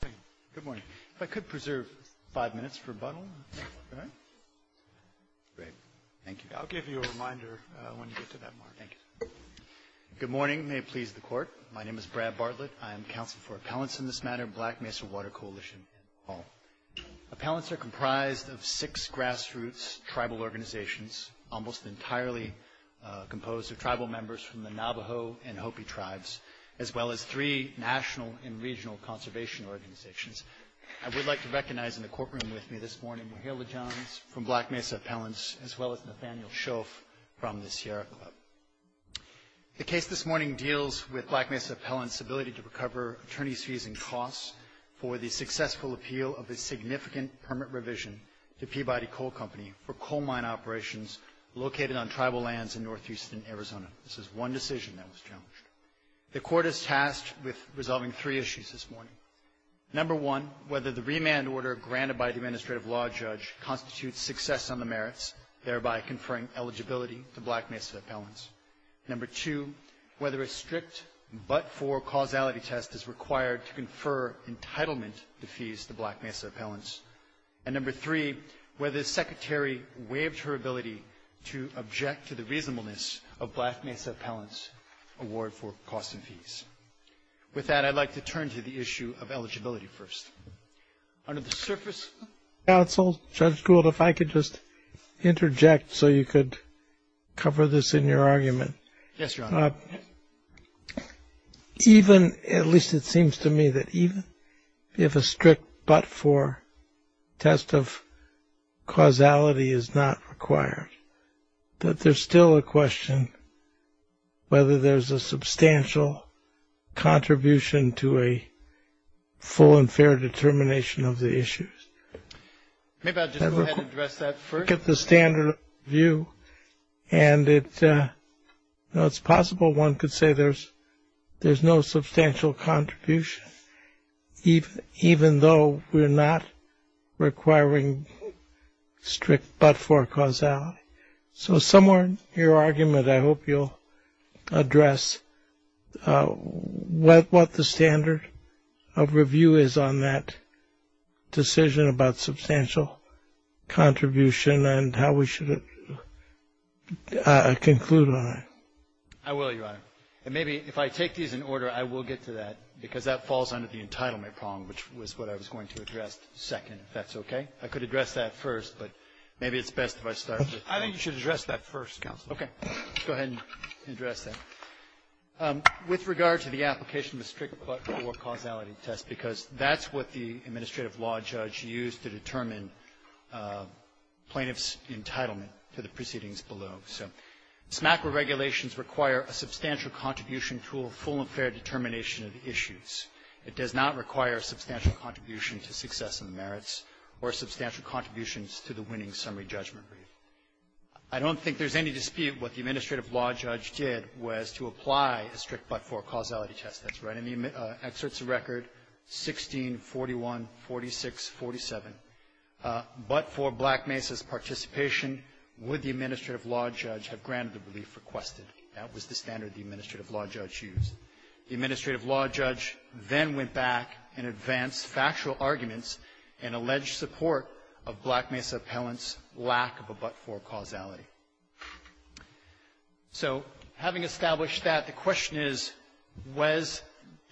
Thank you. Good morning. If I could preserve five minutes for a bundle, right? Great. Thank you. I'll give you a reminder when you get to that mark. Thank you. Good morning. May it please the Court. My name is Brad Bartlett. I am counsel for appellants in this matter, Black Mesa Water Coalition and all. Appellants are comprised of six grassroots tribal organizations, almost entirely composed of tribal members from the Navajo and Hopi tribes, as well as three national and regional conservation organizations. I would like to recognize in the courtroom with me this morning Mahala Johns from Black Mesa Appellants as well as Nathaniel Shoff from the Sierra Club. The case this morning deals with Black Mesa Appellants' ability to recover attorney's fees and costs for the successful appeal of a significant permit revision to Peabody Coal Company for coal mine operations located on tribal lands in Northeastern Arizona. This is one decision that was challenged. The Court is tasked with resolving three issues this morning. Number one, whether the remand order granted by the administrative law judge constitutes success on the merits, thereby conferring eligibility to Black Mesa Appellants. Number two, whether a strict but-for causality test is required to confer entitlement to fees to Black Mesa Appellants. And number three, whether the Secretary waived her ability to object to the reasonableness of Black Mesa Appellants' award for costs and fees. With that, I'd like to turn to the issue of eligibility first. Under the surface counsel, Judge Gould, if I could just interject so you could cover this in your argument. Yes, Your Honor. Even, at least it seems to me that even if a strict but-for test of causality is not required, that there's still a question whether there's a substantial contribution to a full and fair determination of the issues. Maybe I'll just go ahead and address that first. I look at the standard of review and it's possible one could say there's no substantial contribution, even though we're not requiring strict but-for causality. So somewhere in your argument I hope you'll address what the standard of review is on that decision about substantial contribution and how we should conclude on it. I will, Your Honor. And maybe if I take these in order, I will get to that, because that falls under the entitlement problem, which was what I was going to address second, if that's okay. I could address that first, but maybe it's best if I start with that. I think you should address that first, counsel. Okay. Go ahead and address that. With regard to the application of a strict but-for causality test, because that's what the administrative law judge used to determine plaintiff's entitlement to the proceedings below. So SMACRA regulations require a substantial contribution to a full and fair determination of the issues. It does not require a substantial contribution to success and merits or substantial contributions to the winning summary judgment brief. I don't think there's any dispute what the administrative law judge did was to apply a strict but-for causality test. That's right. And the excerpt's a record, 16-41-46-47. But-for Black Mesa's participation would the administrative law judge have granted the relief requested. That was the standard the administrative law judge used. The administrative law judge then went back and advanced factual arguments and alleged support of Black Mesa appellant's lack of a but-for causality. So having established that, the question is, was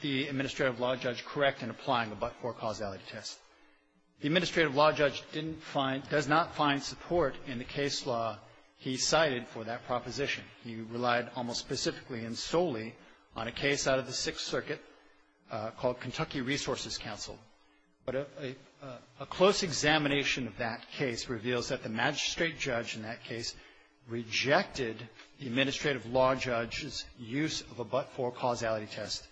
the administrative law judge correct in applying a but-for causality test? The administrative law judge didn't find — does not find support in the case law he cited for that proposition. He relied almost specifically and solely on a case out of the Sixth Circuit called Kentucky Resources Council. But a close examination of that case reveals that the magistrate judge in that case rejected the administrative law judge's use of a but-for causality test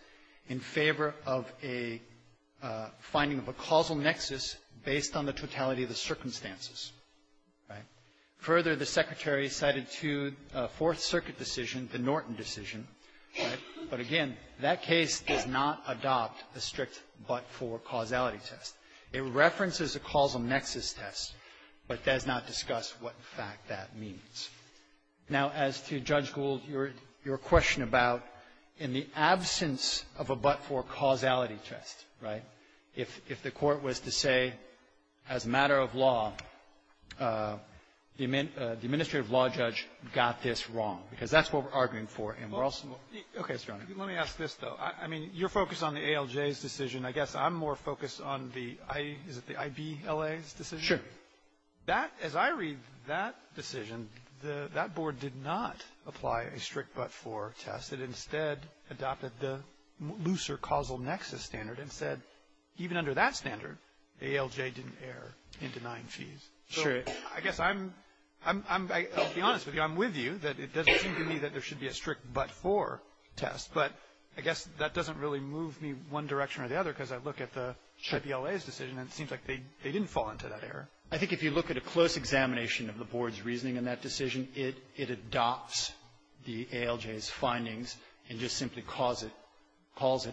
in favor of a finding of a causal nexus based on the totality of the circumstances. Right? Further, the Secretary cited two Fourth Circuit decisions, the Norton decision. Right? But again, that case does not adopt a strict but-for causality test. It references a causal nexus test, but does not discuss what, in fact, that means. Now, as to Judge Gould, your question about in the absence of a but-for causality test, right, if the Court was to say, as a matter of law, the administrative law judge got this wrong, because that's what we're arguing for, and we're also — Okay. Let me ask this, though. I mean, you're focused on the ALJ's decision. I guess I'm more focused on the — is it the IVLA's decision? Sure. That — as I read that decision, the — that board did not apply a strict but-for test. It instead adopted the looser causal nexus standard and said, even under that standard, ALJ didn't err in denying fees. Sure. I guess I'm — I'll be honest with you. I'm with you that it doesn't seem to me that there should be a strict but-for test. But I guess that doesn't really move me one direction or the other, because I look at the IVLA's decision, and it seems like they didn't fall into that error. I think if you look at a close examination of the board's reasoning in that decision, it adopts the ALJ's findings and just simply calls it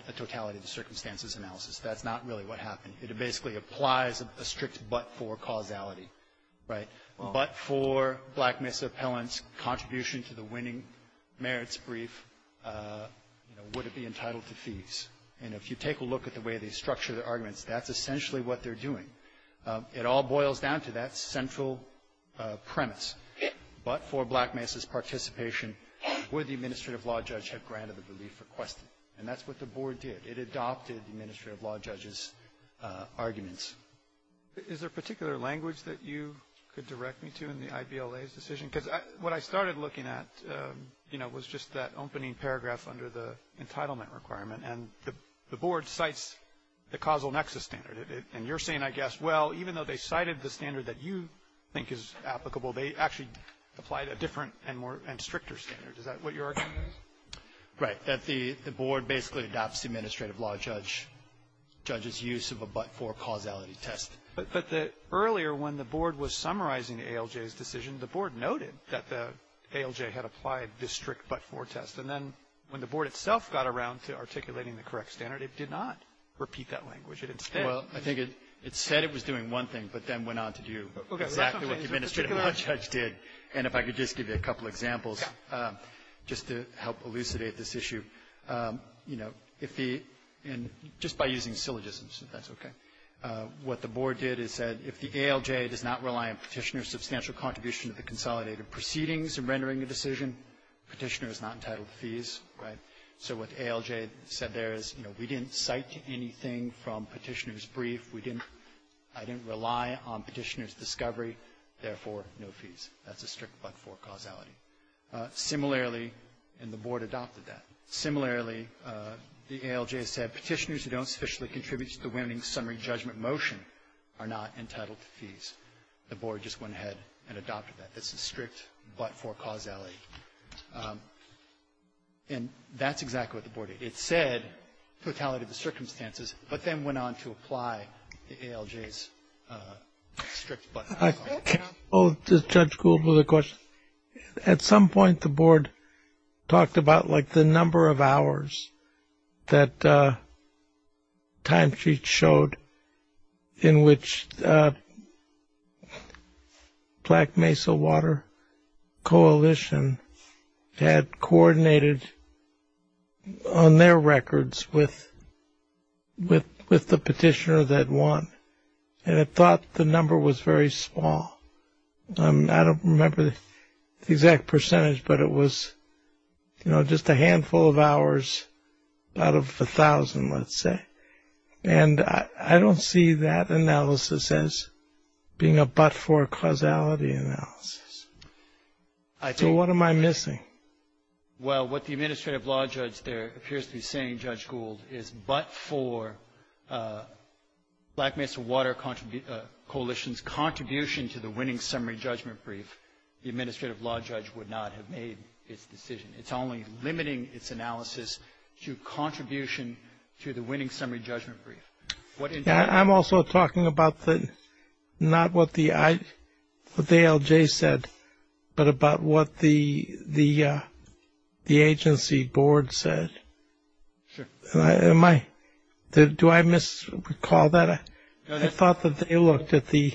a totality of the circumstances analysis. That's not really what happened. It basically applies a strict but-for causality, right? But-for Black Mesa appellant's contribution to the winning merits brief, you know, would it be entitled to fees? And if you take a look at the way they structure their arguments, that's essentially what they're doing. It all boils down to that central premise. But-for Black Mesa's participation, would the administrative law judge have granted the relief requested? And that's what the board did. It adopted the administrative law judge's arguments. Is there a particular language that you could direct me to in the IVLA's decision? Because what I started looking at, you know, was just that opening paragraph under the entitlement requirement. And the board cites the causal nexus standard. And you're saying, I guess, well, even though they cited the standard that you think is applicable, they actually applied a different and more-and stricter standard. Is that what you're arguing? Right. That the board basically adopts the administrative law judge's use of a but-for causality test. But the earlier, when the board was summarizing the ALJ's decision, the board noted that the ALJ had applied this strict but-for test. And then when the board itself got around to articulating the correct standard, it did not repeat that language. It instead ---- Well, I think it said it was doing one thing, but then went on to do exactly what the administrative law judge did. And if I could just give you a couple examples, just to help elucidate this issue. You know, if the ---- and just by using syllogisms, if that's okay. What the board did is said, if the ALJ does not rely on Petitioner's substantial contribution to the consolidated proceedings in rendering a decision, Petitioner is not entitled to fees. Right? So what the ALJ said there is, you know, we didn't cite anything from Petitioner's We didn't ---- I didn't rely on Petitioner's discovery. Therefore, no fees. That's a strict but-for causality. Similarly, and the board adopted that. Similarly, the ALJ said Petitioner's who don't sufficiently contribute to the winning summary judgment motion are not entitled to fees. The board just went ahead and adopted that. That's a strict but-for causality. And that's exactly what the board did. It said totality of the circumstances, but then went on to apply the ALJ's strict but-for causality. Judge Gould, was there a question? At some point, the board talked about like the number of hours that timesheets showed in which Black Mesa Water Coalition had coordinated on their records with the Petitioner that won. And it thought the number was very small. I don't remember the exact percentage, but it was, you know, just a handful of hours out of a thousand, let's say. And I don't see that analysis as being a but-for causality analysis. So what am I missing? Well, what the administrative law judge there appears to be saying, Judge Gould, is but for Black Mesa Water Coalition's contribution to the winning summary judgment brief, the administrative law judge would not have made its decision. It's only limiting its analysis to contribution to the winning summary judgment brief. I'm also talking about not what the ALJ said, but about what the agency board said. Do I misrecall that? I thought that they looked at the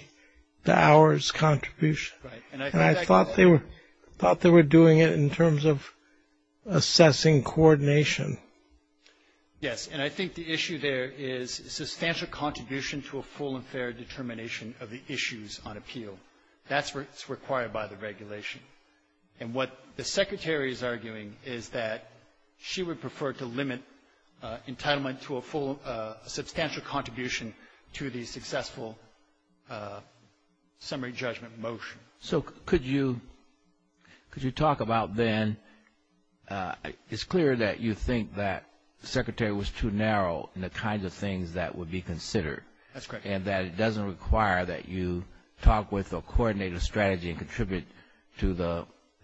hours contribution. And I thought they were doing it in terms of assessing coordination. Yes. And I think the issue there is substantial contribution to a full and fair determination of the issues on appeal. That's what's required by the regulation. And what the Secretary is arguing is that she would prefer to limit entitlement to a full substantial contribution to the successful summary judgment motion. So could you talk about then, it's clear that you think that the Secretary was too narrow in the kinds of things that would be considered. That's correct. And that it doesn't require that you talk with or coordinate a strategy and contribute to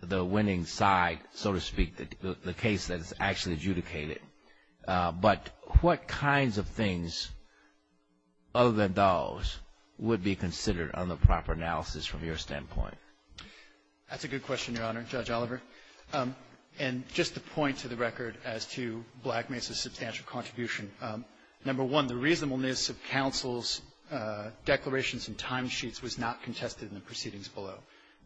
the winning side, so to speak, the case that is actually adjudicated. But what kinds of things other than those would be considered on the proper analysis from your standpoint? That's a good question, Your Honor, Judge Oliver. And just to point to the record as to Black Mesa's substantial contribution, number one, the reasonableness of counsel's declarations and timesheets was not contested in the proceedings below.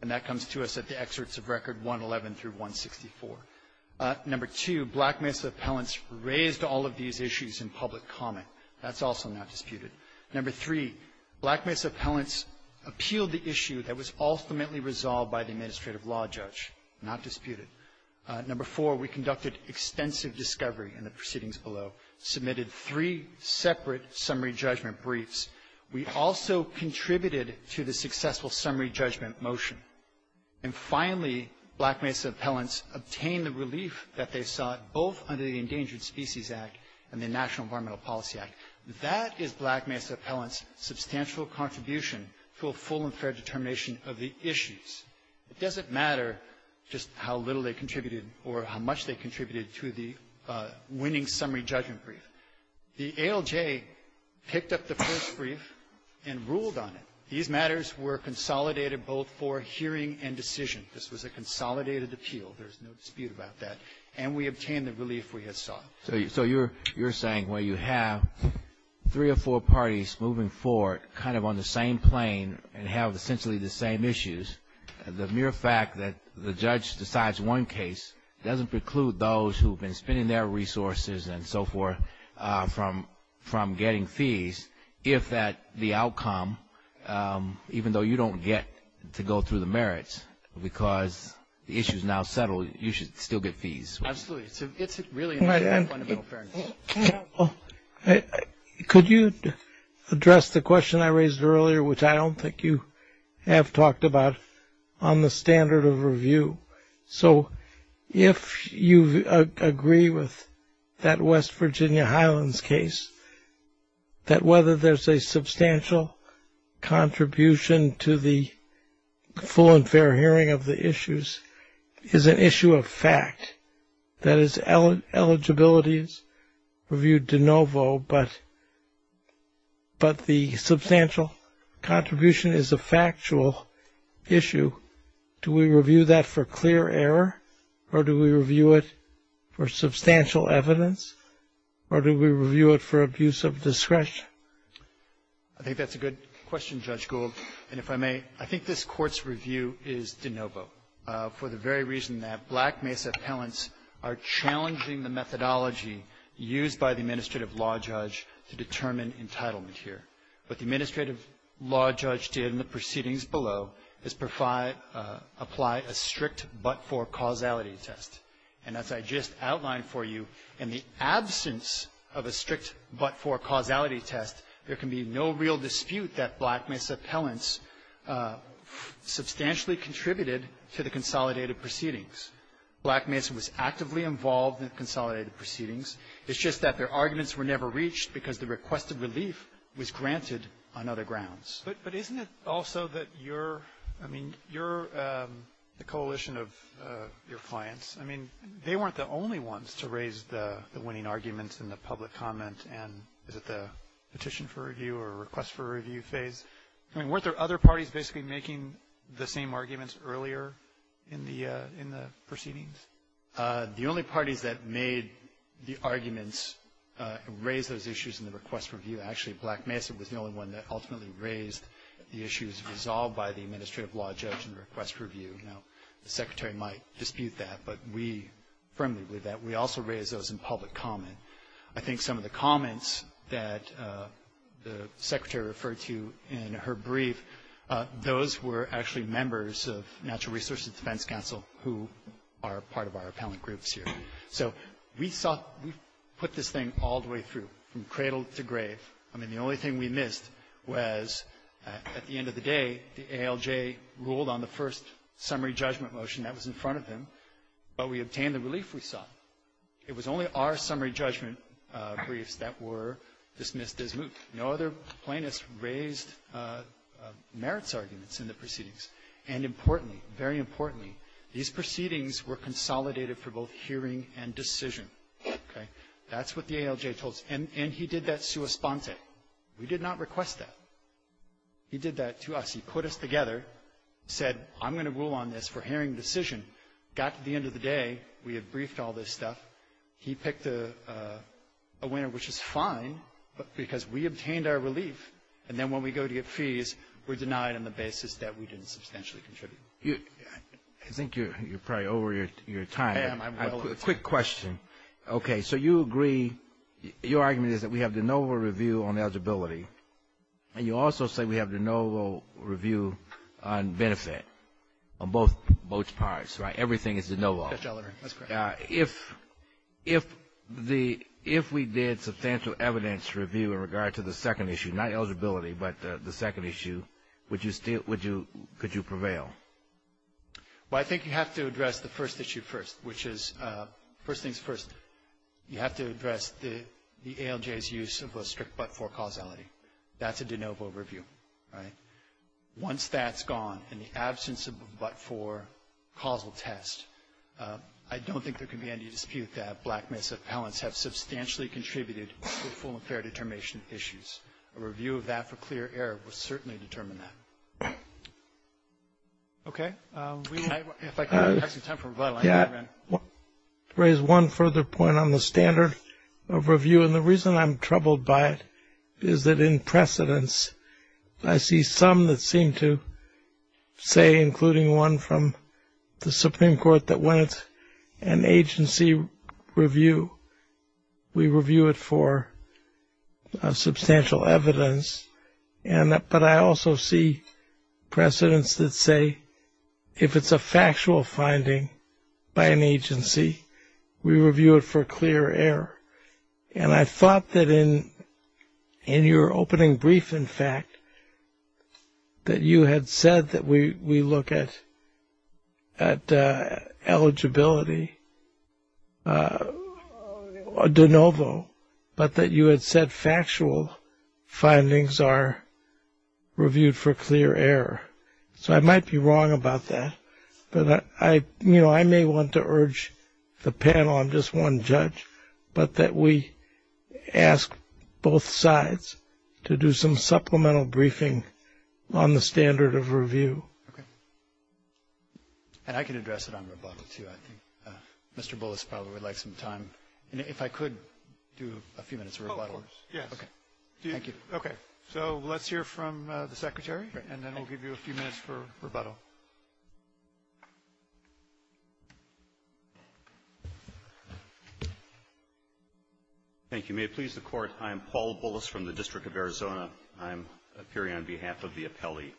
And that comes to us at the excerpts of Record 111 through 164. Number two, Black Mesa appellants raised all of these issues in public comment. That's also not disputed. Number three, Black Mesa appellants appealed the issue that was ultimately resolved by the administrative law judge. Not disputed. Number four, we conducted extensive discovery in the proceedings below, submitted three separate summary judgment briefs. We also contributed to the successful summary judgment motion. And finally, Black Mesa appellants obtained the relief that they sought both under the Endangered Species Act and the National Environmental Policy Act. That is Black Mesa appellants' substantial contribution to a full and fair determination of the issues. It doesn't matter just how little they contributed or how much they contributed to the winning summary judgment brief. The ALJ picked up the first brief and ruled on it. These matters were consolidated both for hearing and decision. This was a consolidated appeal. There's no dispute about that. And we obtained the relief we had sought. So you're saying where you have three or four parties moving forward kind of on the same plane and have essentially the same issues, the mere fact that the judge decides one case doesn't preclude those who have been spending their resources and so forth from getting fees if that the outcome, even though you don't get to go through the merits because the issue is now settled, you should still get fees. Absolutely. It's really fundamental fairness. Could you address the question I raised earlier, which I don't think you have talked about, on the standard of review? So if you agree with that West Virginia Highlands case, that whether there's a substantial contribution to the full and fair hearing of the issues is an issue of fact. That is, eligibility is reviewed de novo, but the substantial contribution is a factual issue. Do we review that for clear error or do we review it for substantial evidence or do we review it for abuse of discretion? I think that's a good question, Judge Gould. And if I may, I think this Court's review is de novo for the very reason that Black Mesa appellants are challenging the methodology used by the administrative law judge to determine entitlement here. What the administrative law judge did in the proceedings below is apply a strict but-for causality test. And as I just outlined for you, in the absence of a strict but-for causality test, there can be no real dispute that Black Mesa appellants substantially contributed to the consolidated proceedings. Black Mesa was actively involved in the consolidated proceedings. It's just that their arguments were never reached because the requested relief was granted on other grounds. But isn't it also that you're, I mean, you're the coalition of your clients. I mean, they weren't the only ones to raise the winning arguments in the public comment and is it the petition for review or request for review phase? I mean, weren't there other parties basically making the same arguments earlier in the proceedings? The only parties that made the arguments raise those issues in the request for review, actually Black Mesa was the only one that ultimately raised the issues resolved by the administrative law judge in the request for review. Now, the Secretary might dispute that, but we firmly believe that. We also raised those in public comment. I think some of the comments that the Secretary referred to in her brief, those were actually members of Natural Resources Defense Council who are part of our appellant groups here. So we saw we put this thing all the way through, from cradle to grave. I mean, the only thing we missed was at the end of the day, the ALJ ruled on the first summary judgment motion that was in front of them, but we obtained the relief we saw. It was only our summary judgment briefs that were dismissed as moot. No other plaintiffs raised merits arguments in the proceedings. And importantly, very importantly, these proceedings were consolidated for both hearing and decision. Okay? That's what the ALJ told us. And he did that sua sponte. We did not request that. He did that to us. He put us together, said, I'm going to rule on this for hearing decision. Got to the end of the day. We had briefed all this stuff. He picked a winner, which is fine, because we obtained our relief. And then when we go to get fees, we're denied on the basis that we didn't substantially contribute. I think you're probably over your time. I am. I'm well on time. Quick question. Okay. So you agree, your argument is that we have de novo review on eligibility, and you also say we have de novo review on benefit, on both parts, right? Everything is de novo. That's correct. Okay. If we did substantial evidence review in regard to the second issue, not eligibility, but the second issue, would you still, could you prevail? Well, I think you have to address the first issue first, which is, first things first, you have to address the ALJ's use of a strict but-for causality. That's a de novo review, right? Once that's gone, in the absence of a but-for causal test, I don't think there can be any dispute that black males' appellants have substantially contributed to full and fair determination issues. A review of that for clear error will certainly determine that. Okay. If I could have some time for rebuttal. Yeah. To raise one further point on the standard of review, and the reason I'm troubled by that is that in precedence, I see some that seem to say, including one from the Supreme Court, that when it's an agency review, we review it for substantial evidence. But I also see precedence that say, if it's a factual finding by an agency, we review it for clear error. And I thought that in your opening brief, in fact, that you had said that we look at eligibility de novo, but that you had said factual findings are reviewed for clear error. So I might be wrong about that. I may want to urge the panel, I'm just one judge, but that we ask both sides to do some supplemental briefing on the standard of review. Okay. And I can address it on rebuttal, too. I think Mr. Bullis probably would like some time. And if I could do a few minutes of rebuttal. Oh, of course. Yes. Okay. Thank you. So let's hear from the Secretary, and then we'll give you a few minutes for rebuttal. Thank you. May it please the Court, I am Paul Bullis from the District of Arizona. I'm appearing on behalf of the appellee.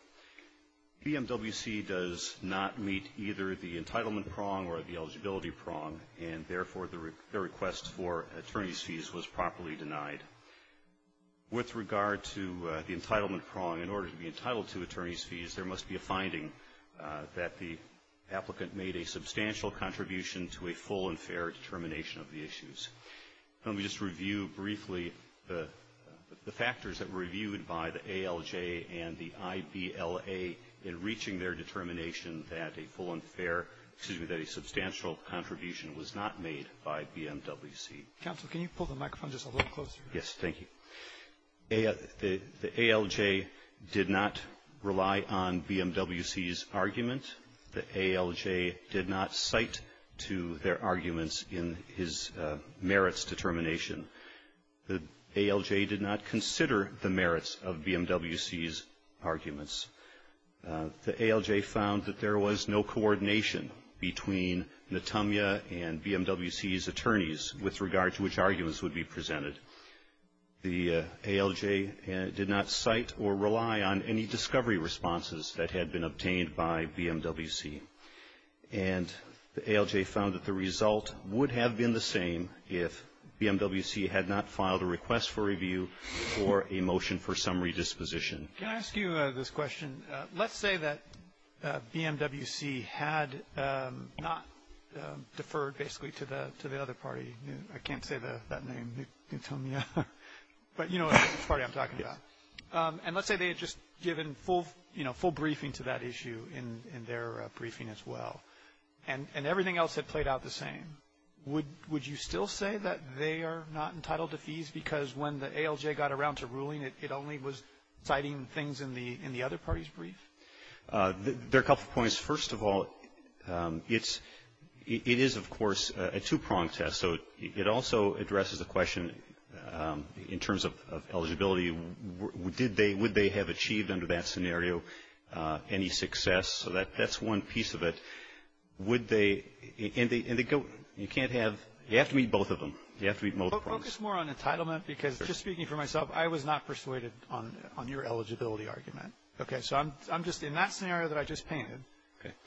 BMWC does not meet either the entitlement prong or the eligibility prong, and therefore the request for attorney's fees was properly denied. With regard to the entitlement prong, in order to be entitled to attorney's fees, there is evidence that the applicant made a substantial contribution to a full and fair determination of the issues. Let me just review briefly the factors that were reviewed by the ALJ and the IBLA in reaching their determination that a full and fair, excuse me, that a substantial contribution was not made by BMWC. Counsel, can you pull the microphone just a little closer? Yes. Thank you. The ALJ did not rely on BMWC's argument. The ALJ did not cite to their arguments in his merits determination. The ALJ did not consider the merits of BMWC's arguments. The ALJ found that there was no coordination between Natamya and BMWC's attorneys with regard to which arguments would be presented. The ALJ did not cite or rely on any discovery responses that had been obtained by BMWC. And the ALJ found that the result would have been the same if BMWC had not filed a request for review or a motion for summary disposition. Can I ask you this question? Let's say that BMWC had not deferred basically to the other party. I can't say that name, Natamya. But you know which party I'm talking about. And let's say they had just given full briefing to that issue in their briefing as well. And everything else had played out the same. Would you still say that they are not entitled to fees because when the ALJ got around to ruling, it only was citing things in the other party's brief? There are a couple of points. First of all, it is, of course, a two-prong test. So it also addresses the question in terms of eligibility. Would they have achieved under that scenario any success? So that's one piece of it. Would they? And you can't have you have to meet both of them. You have to meet both prongs. Focus more on entitlement because just speaking for myself, I was not persuaded on your eligibility argument. Okay. So I'm just in that scenario that I just painted,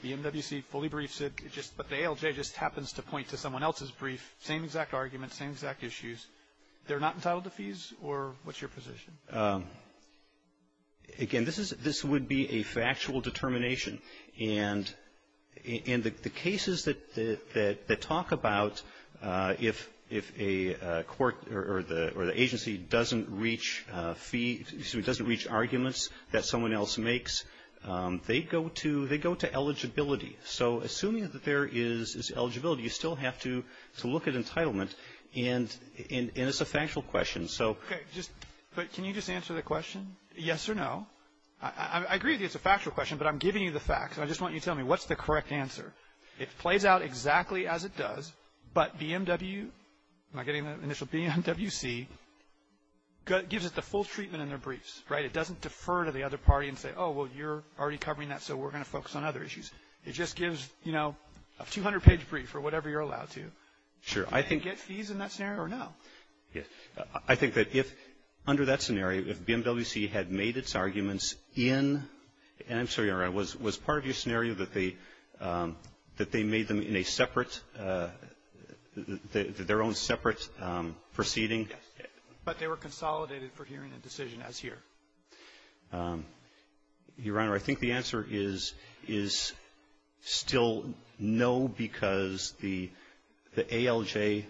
the MWC fully briefs it, but the ALJ just happens to point to someone else's brief, same exact argument, same exact issues. They're not entitled to fees? Or what's your position? Again, this is this would be a factual determination. And in the cases that talk about if a court or the agency doesn't reach arguments that someone else makes, they go to eligibility. So assuming that there is eligibility, you still have to look at entitlement. And it's a factual question. Okay. But can you just answer the question, yes or no? I agree it's a factual question, but I'm giving you the facts. And I just want you to tell me what's the correct answer. It plays out exactly as it does, but BMW, am I getting the initial BMWC, gives it the full treatment in their briefs, right? It doesn't defer to the other party and say, oh, well, you're already covering that, so we're going to focus on other issues. It just gives, you know, a 200-page brief or whatever you're allowed to. Sure. Do they get fees in that scenario or no? Yes. I think that if, under that scenario, if BMWC had made its arguments in, and I'm sorry, was part of your scenario that they made them in a separate, their own separate proceeding? Yes. But they were consolidated for hearing a decision as here? Your Honor, I think the answer is still no, because the ALJ,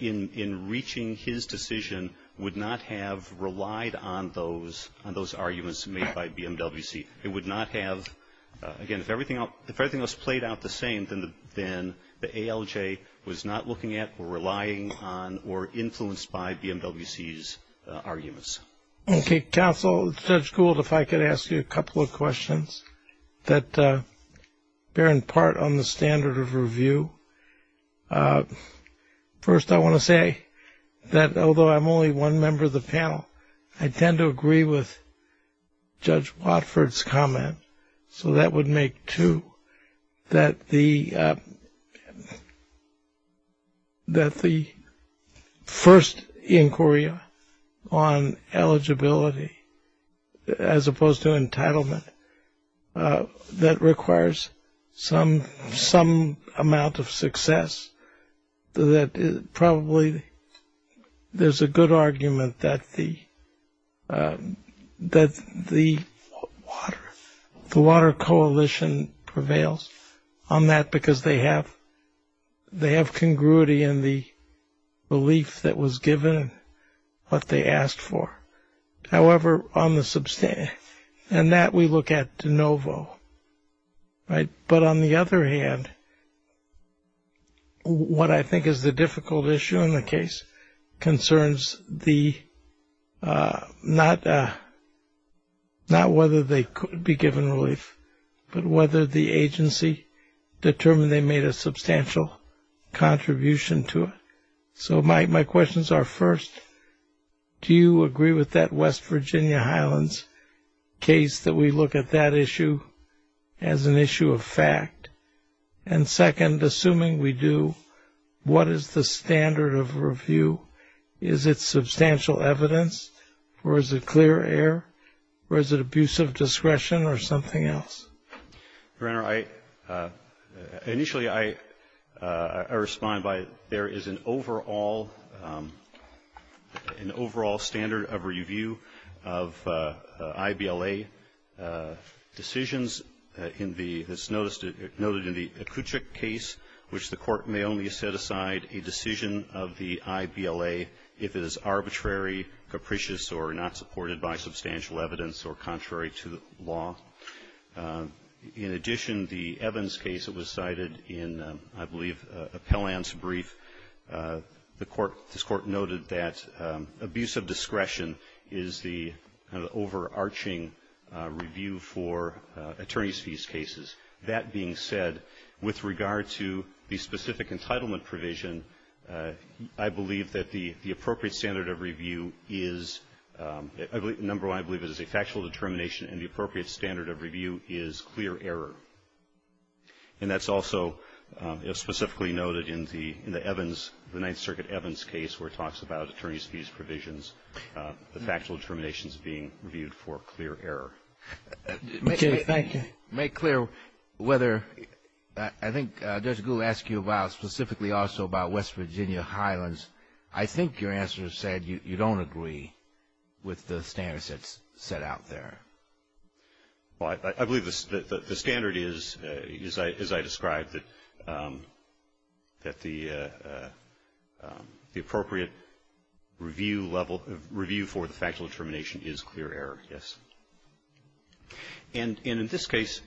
in reaching his decision, would not have relied on those arguments made by BMWC. It would not have, again, if everything else played out the same, then the ALJ was not looking at or relying on or influenced by BMWC's arguments. Okay. Counsel, Judge Gould, if I could ask you a couple of questions that bear in part on the standard of review. First, I want to say that although I'm only one member of the panel, I tend to agree with that the first inquiry on eligibility, as opposed to entitlement, that requires some amount of success, that probably there's a good argument that the water coalition prevails on that because they have congruity in the relief that was given and what they asked for. However, on the, and that we look at de novo, right? But on the other hand, what I think is the difficult issue in the case concerns the, not whether they could be given relief, but whether the agency determined they made a substantial contribution to it. So my questions are first, do you agree with that West Virginia Highlands case that we look at that issue as an issue of fact? And second, assuming we do, what is the standard of review? Is it substantial evidence or is it clear air or is it abusive discretion or something else? Your Honor, I, initially I respond by there is an overall, an overall standard of review of IBLA decisions in the, it's noted in the Akutchik case, which the court may only set aside a decision of the IBLA if it is arbitrary, capricious, or not supported by substantial evidence or contrary to the law. In addition, the Evans case that was cited in, I believe, Appellant's brief, the court, this court noted that abusive discretion is the overarching review for attorney's fees cases. That being said, with regard to the specific entitlement provision, I believe that the appropriate standard of review is, number one, I believe it is a factual determination and the appropriate standard of review is clear error. And that's also specifically noted in the Evans, the Ninth Circuit Evans case where it talks about attorney's fees provisions, the factual determinations being reviewed for clear error. Make clear whether, I think Judge Gould asked you about specifically also about West Virginia Highlands. I think your answer said you don't agree with the standards that's set out there. Well, I believe the standard is, as I described, that the appropriate review level, review for the factual determination is clear error, yes. And in this case.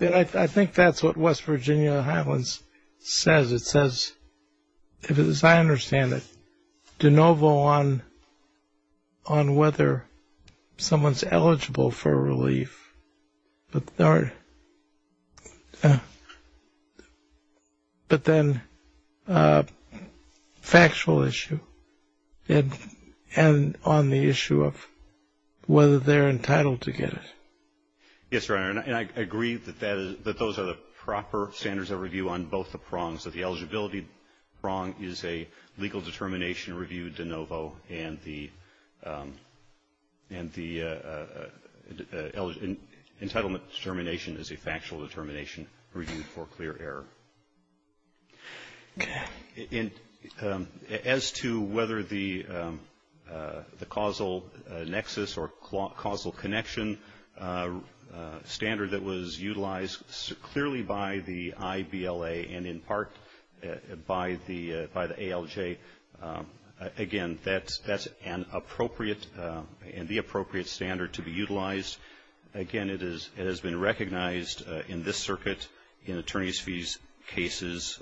I think that's what West Virginia Highlands says. It says, as I understand it, de novo on whether someone's eligible for relief, but then factual issue and on the issue of whether they're entitled to get it. Yes, Your Honor, and I agree that those are the proper standards of review on both the eligibility wrong is a legal determination review de novo and the entitlement determination is a factual determination review for clear error. As to whether the causal nexus or causal connection standard that was utilized clearly by the ALJ, again, that's an appropriate and the appropriate standard to be utilized. Again, it has been recognized in this circuit in attorney's fees cases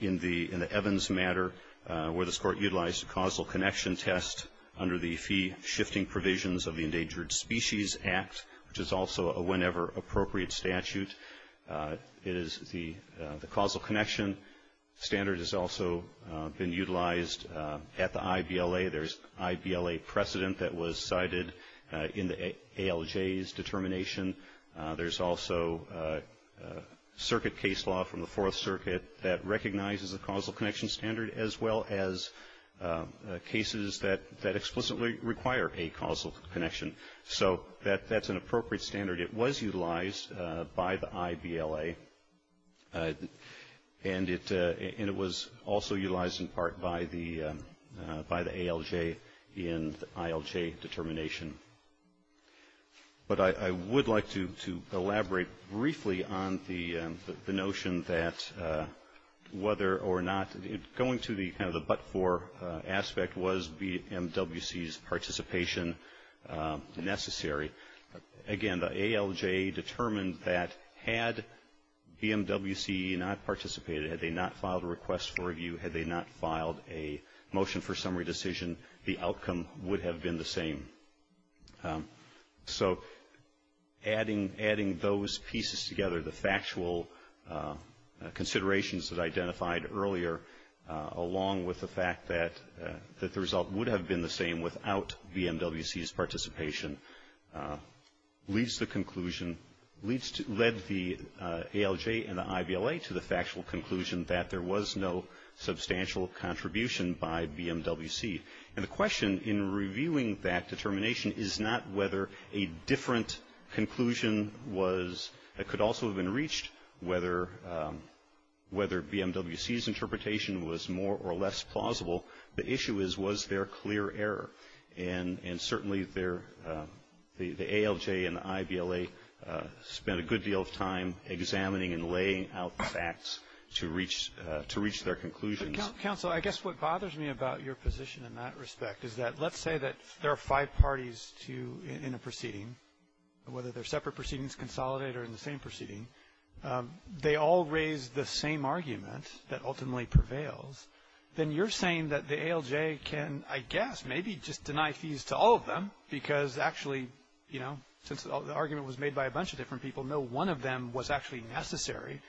in the Evans matter where this Court utilized a causal connection test under the fee shifting provisions of the Endangered Species Act, which is also a whenever appropriate statute. It is the causal connection standard has also been utilized at the IBLA. There's IBLA precedent that was cited in the ALJ's determination. There's also circuit case law from the Fourth Circuit that recognizes the causal connection standard, as well as cases that explicitly require a causal connection. So that's an appropriate standard. It was utilized by the IBLA, and it was also utilized in part by the ALJ in the ILJ determination. But I would like to elaborate briefly on the notion that whether or not going to the kind of the but-for aspect was the MWC's participation necessary. Again, the ALJ determined that had BMWC not participated, had they not filed a request for review, had they not filed a motion for summary decision, the outcome would have been the same. So adding those pieces together, the factual considerations that I identified earlier, along with the fact that the result would have been the same without BMWC's participation, leads to the conclusion, led the ALJ and the IBLA to the factual conclusion that there was no substantial contribution by BMWC. And the question in reviewing that determination is not whether a different conclusion was, that could also have been reached, whether BMWC's interpretation was more or less plausible. The issue is, was there clear error? And certainly the ALJ and the IBLA spent a good deal of time examining and laying out the facts to reach their conclusions. Council, I guess what bothers me about your position in that respect is that let's say that there are five parties in a proceeding, whether they're separate proceedings, consolidated, or in the same proceeding. They all raise the same argument that ultimately prevails. Then you're saying that the ALJ can, I guess, maybe just deny fees to all of them, because actually, you know, since the argument was made by a bunch of different people, no one of them was actually necessary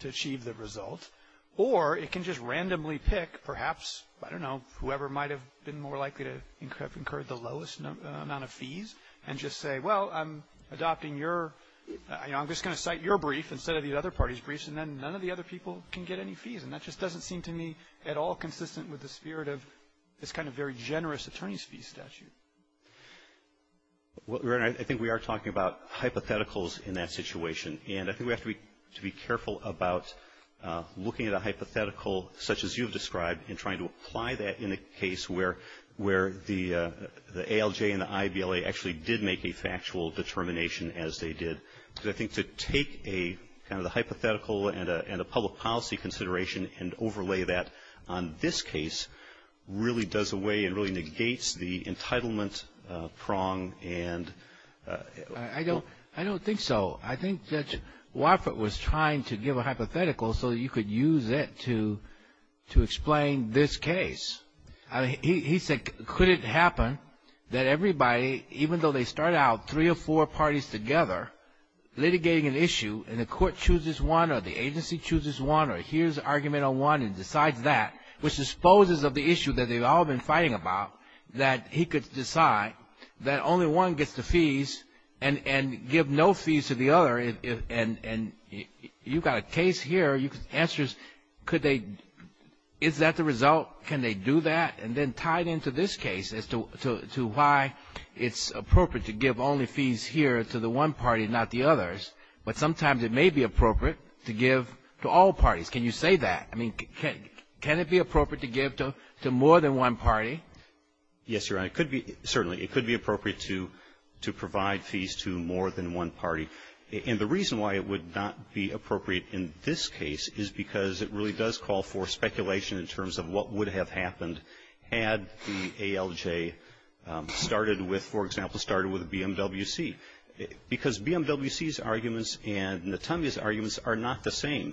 to achieve the result. Or it can just randomly pick, perhaps, I don't know, whoever might have been more likely to have incurred the lowest amount of fees and just say, well, I'm adopting your, you know, I'm just going to cite your brief instead of the other party's briefs, and then none of the other people can get any fees. And that just doesn't seem to me at all consistent with the spirit of this kind of very generous attorney's fee statute. Well, I think we are talking about hypotheticals in that situation, and I think we have to be careful about looking at a hypothetical such as you've described and trying to apply that in a case where the ALJ and the IABLA actually did make a factual determination, as they did. Because I think to take a kind of a hypothetical and a public policy consideration and overlay that on this case really does away and really negates the entitlement prong. I don't think so. I think Judge Wofford was trying to give a hypothetical so you could use it to explain this case. He said, could it happen that everybody, even though they start out three or four parties together litigating an issue, and the court chooses one or the agency chooses one or hears an argument on one and decides that, which disposes of the issue that they've all been fighting about, that he could decide that only one gets the fees and give no fees to the other. And you've got a case here. The answer is, is that the result? Can they do that? And then tie it into this case as to why it's appropriate to give only fees here to the one party, not the others. But sometimes it may be appropriate to give to all parties. Can you say that? I mean, can it be appropriate to give to more than one party? Yes, Your Honor. It could be. Certainly. It could be appropriate to provide fees to more than one party. And the reason why it would not be appropriate in this case is because it really does call for speculation in terms of what would have happened had the ALJ started with, for example, started with BMWC. Because BMWC's arguments and Natalia's arguments are not the same.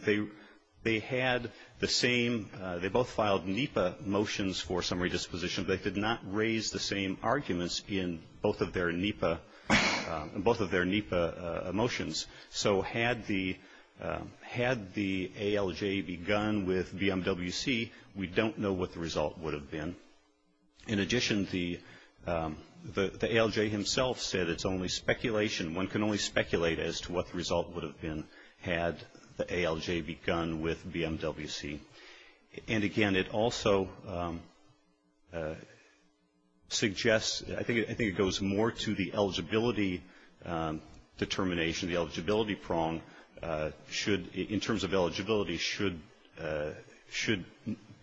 They had the same. They both filed NEPA motions for summary disposition, but they did not raise the same arguments in both of their NEPA motions. So had the ALJ begun with BMWC, we don't know what the result would have been. In addition, the ALJ himself said it's only speculation. would have been had the ALJ begun with BMWC. And, again, it also suggests, I think it goes more to the eligibility determination, the eligibility prong. In terms of eligibility, should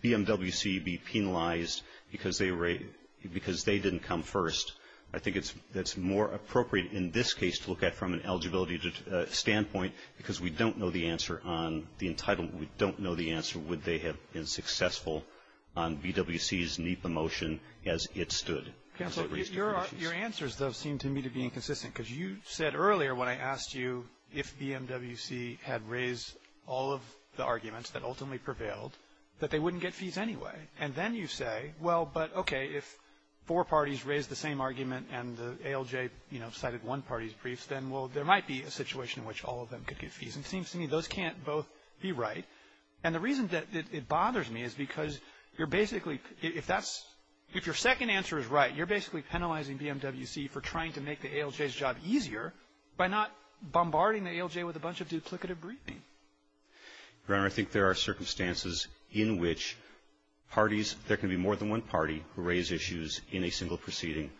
BMWC be penalized because they didn't come first? I think it's more appropriate in this case to look at from an eligibility standpoint because we don't know the answer on the entitlement. We don't know the answer would they have been successful on BWC's NEPA motion as it stood. Counselor, your answers, though, seem to me to be inconsistent. Because you said earlier when I asked you if BMWC had raised all of the arguments that ultimately prevailed that they wouldn't get fees anyway. And then you say, well, but, okay, if four parties raised the same argument and the ALJ, you know, cited one party's briefs, then, well, there might be a situation in which all of them could get fees. And it seems to me those can't both be right. And the reason that it bothers me is because you're basically – if that's – if your second answer is right, you're basically penalizing BMWC for trying to make the ALJ's job easier by not bombarding the ALJ with a bunch of duplicative briefing. Browning, I think there are circumstances in which parties – there can be more than one party who raised issues in a single proceeding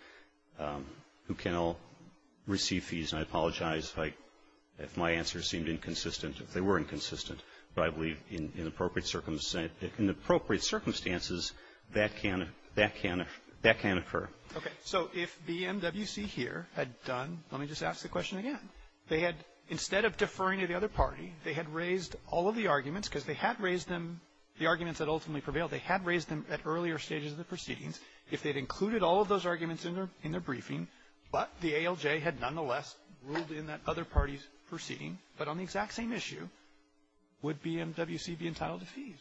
who can all receive fees. And I apologize if I – if my answers seemed inconsistent, if they were inconsistent. But I believe in appropriate circumstances that can – that can – that can occur. Okay. So if BMWC here had done – let me just ask the question again. They had – instead of deferring to the other party, they had raised all of the arguments because they had raised them – the arguments that ultimately prevailed, they had raised them at earlier stages of the proceedings. If they'd included all of those arguments in their briefing, but the ALJ had nonetheless ruled in that other party's proceeding, but on the exact same issue, would BMWC be entitled to fees?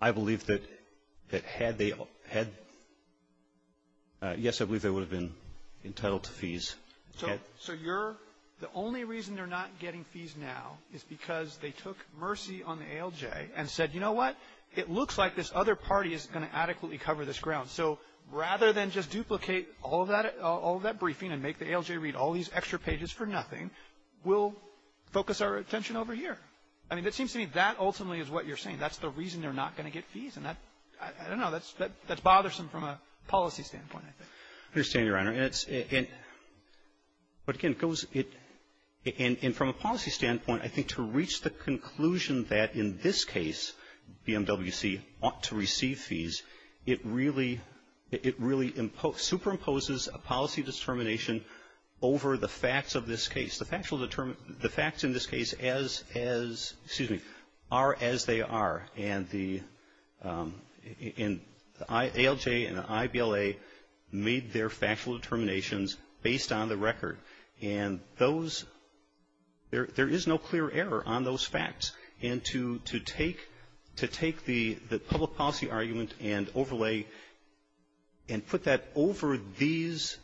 I believe that had they had – yes, I believe they would have been entitled to fees. So you're – the only reason they're not getting fees now is because they took mercy on the ALJ and said, you know what, it looks like this other party is going to adequately cover this ground. So rather than just duplicate all of that briefing and make the ALJ read all these extra pages for nothing, we'll focus our attention over here. I mean, it seems to me that ultimately is what you're saying. That's the reason they're not going to get fees. And that – I don't know. That's bothersome from a policy standpoint, I think. I understand, Your Honor. And it's – but again, it goes – and from a policy standpoint, I think to reach the conclusion that in this case BMWC ought to receive fees, it really superimposes a policy determination over the facts of this case. The facts in this case as – excuse me – are as they are. And the ALJ and the IBLA made their factual determinations based on the record. And those – there is no clear error on those facts. And to take the public policy argument and overlay and put that over these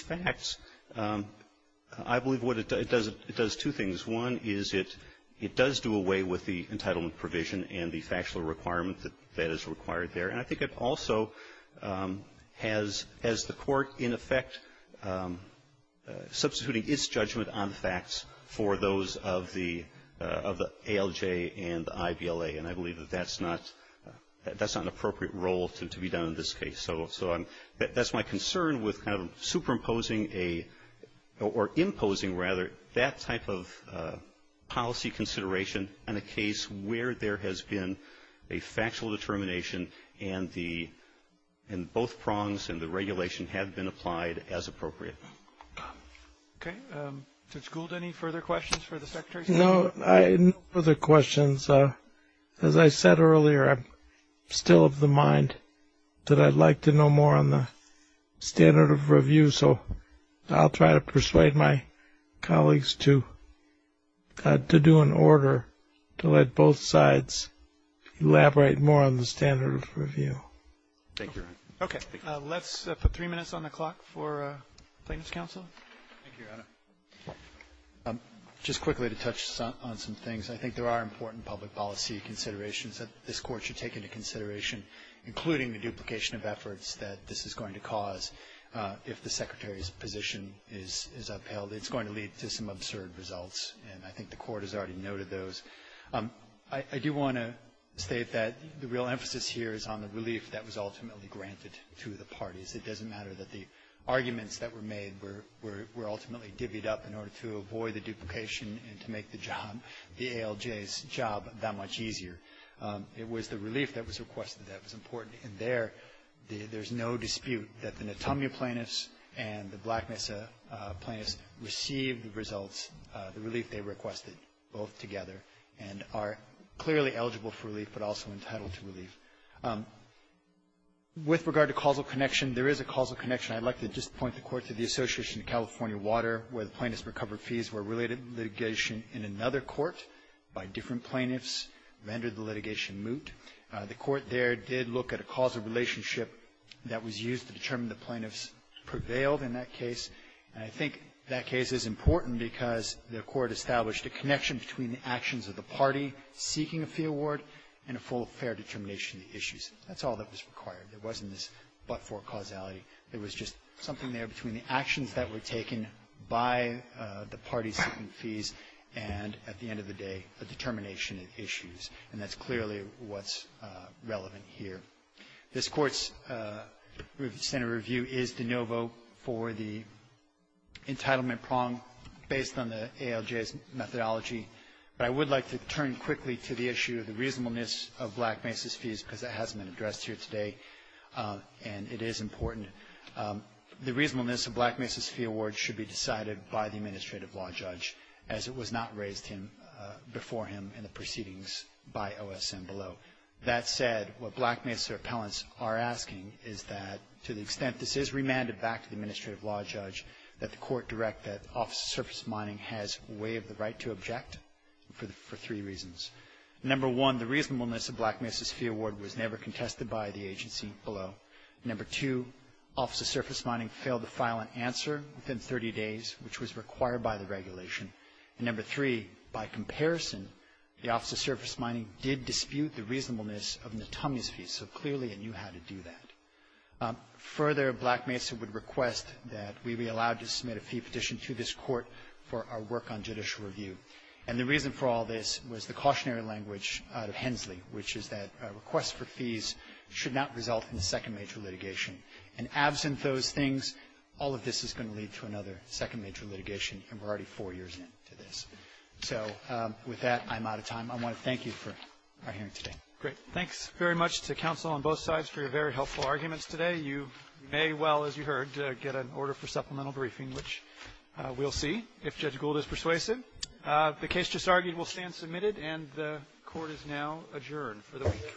facts, I believe what it does, it does two things. One is it does do away with the entitlement provision and the factual requirement that is required there. And I think it also has the court in effect substituting its judgment on the facts for those of the ALJ and the IBLA. And I believe that that's not an appropriate role to be done in this case. So that's my concern with kind of superimposing a – or imposing, rather, that type of policy consideration in a case where there has been a factual determination and both prongs and the regulation have been applied as appropriate. Okay. Judge Gould, any further questions for the Secretary? No further questions. As I said earlier, I'm still of the mind that I'd like to know more on the standard of review, so I'll try to persuade my colleagues to do an order to let both sides elaborate more on the standard of review. Thank you. Okay. Let's put three minutes on the clock for Plaintiff's counsel. Thank you, Your Honor. Just quickly to touch on some things, I think there are important public policy considerations that this Court should take into consideration, including the duplication of efforts that this is going to cause if the Secretary's position is upheld. It's going to lead to some absurd results, and I think the Court has already noted those. I do want to state that the real emphasis here is on the relief that was ultimately granted to the parties. It doesn't matter that the arguments that were made were ultimately divvied up in order to avoid the duplication and to make the job, the ALJ's job, that much easier. It was the relief that was requested that was important. And there, there's no dispute that the Natamia plaintiffs and the Black Mesa plaintiffs received the results, the relief they requested, both together, and are clearly eligible for relief, but also entitled to relief. With regard to causal connection, there is a causal connection. I'd like to just point the Court to the Association of California Water, where the plaintiffs' recovered fees were related to litigation in another court by different plaintiffs, rendered the litigation moot. The Court there did look at a causal relationship that was used to determine the plaintiffs' prevailed in that case. And I think that case is important because the Court established a connection between the actions of the party seeking a fee award and a full, fair determination of the issues. That's all that was required. There wasn't this but-for causality. There was just something there between the actions that were taken by the parties seeking fees and, at the end of the day, a determination of issues. And that's clearly what's relevant here. This Court's Senate review is de novo for the entitlement prong based on the ALJ's methodology. But I would like to turn quickly to the issue of the reasonableness of Black Mesa's fees because that hasn't been addressed here today, and it is important. The reasonableness of Black Mesa's fee award should be decided by the administrative law judge, as it was not raised to him before him in the proceedings by OSM Below. That said, what Black Mesa appellants are asking is that, to the extent this is remanded back to the administrative law judge, that the Court direct that Office of Surface Mining has way of the right to object for three reasons. Number one, the reasonableness of Black Mesa's fee award was never contested by the agency below. Number two, Office of Surface Mining failed to file an answer within 30 days, which was required by the regulation. And number three, by comparison, the Office of Surface Mining did dispute the reasonableness of Natamia's fee, so clearly it knew how to do that. Further, Black Mesa would request that we be allowed to submit a fee petition to this Court for our work on judicial review. And the reason for all this was the cautionary language out of Hensley, which is that a request for fees should not result in a second major litigation. And absent those things, all of this is going to lead to another second major litigation, and we're already four years into this. So with that, I'm out of time. I want to thank you for our hearing today. Great. Thanks very much to counsel on both sides for your very helpful arguments today. You may well, as you heard, get an order for supplemental briefing, which we'll see if Judge Gould is persuasive. The case just argued will stand submitted, and the Court is now adjourned for the week.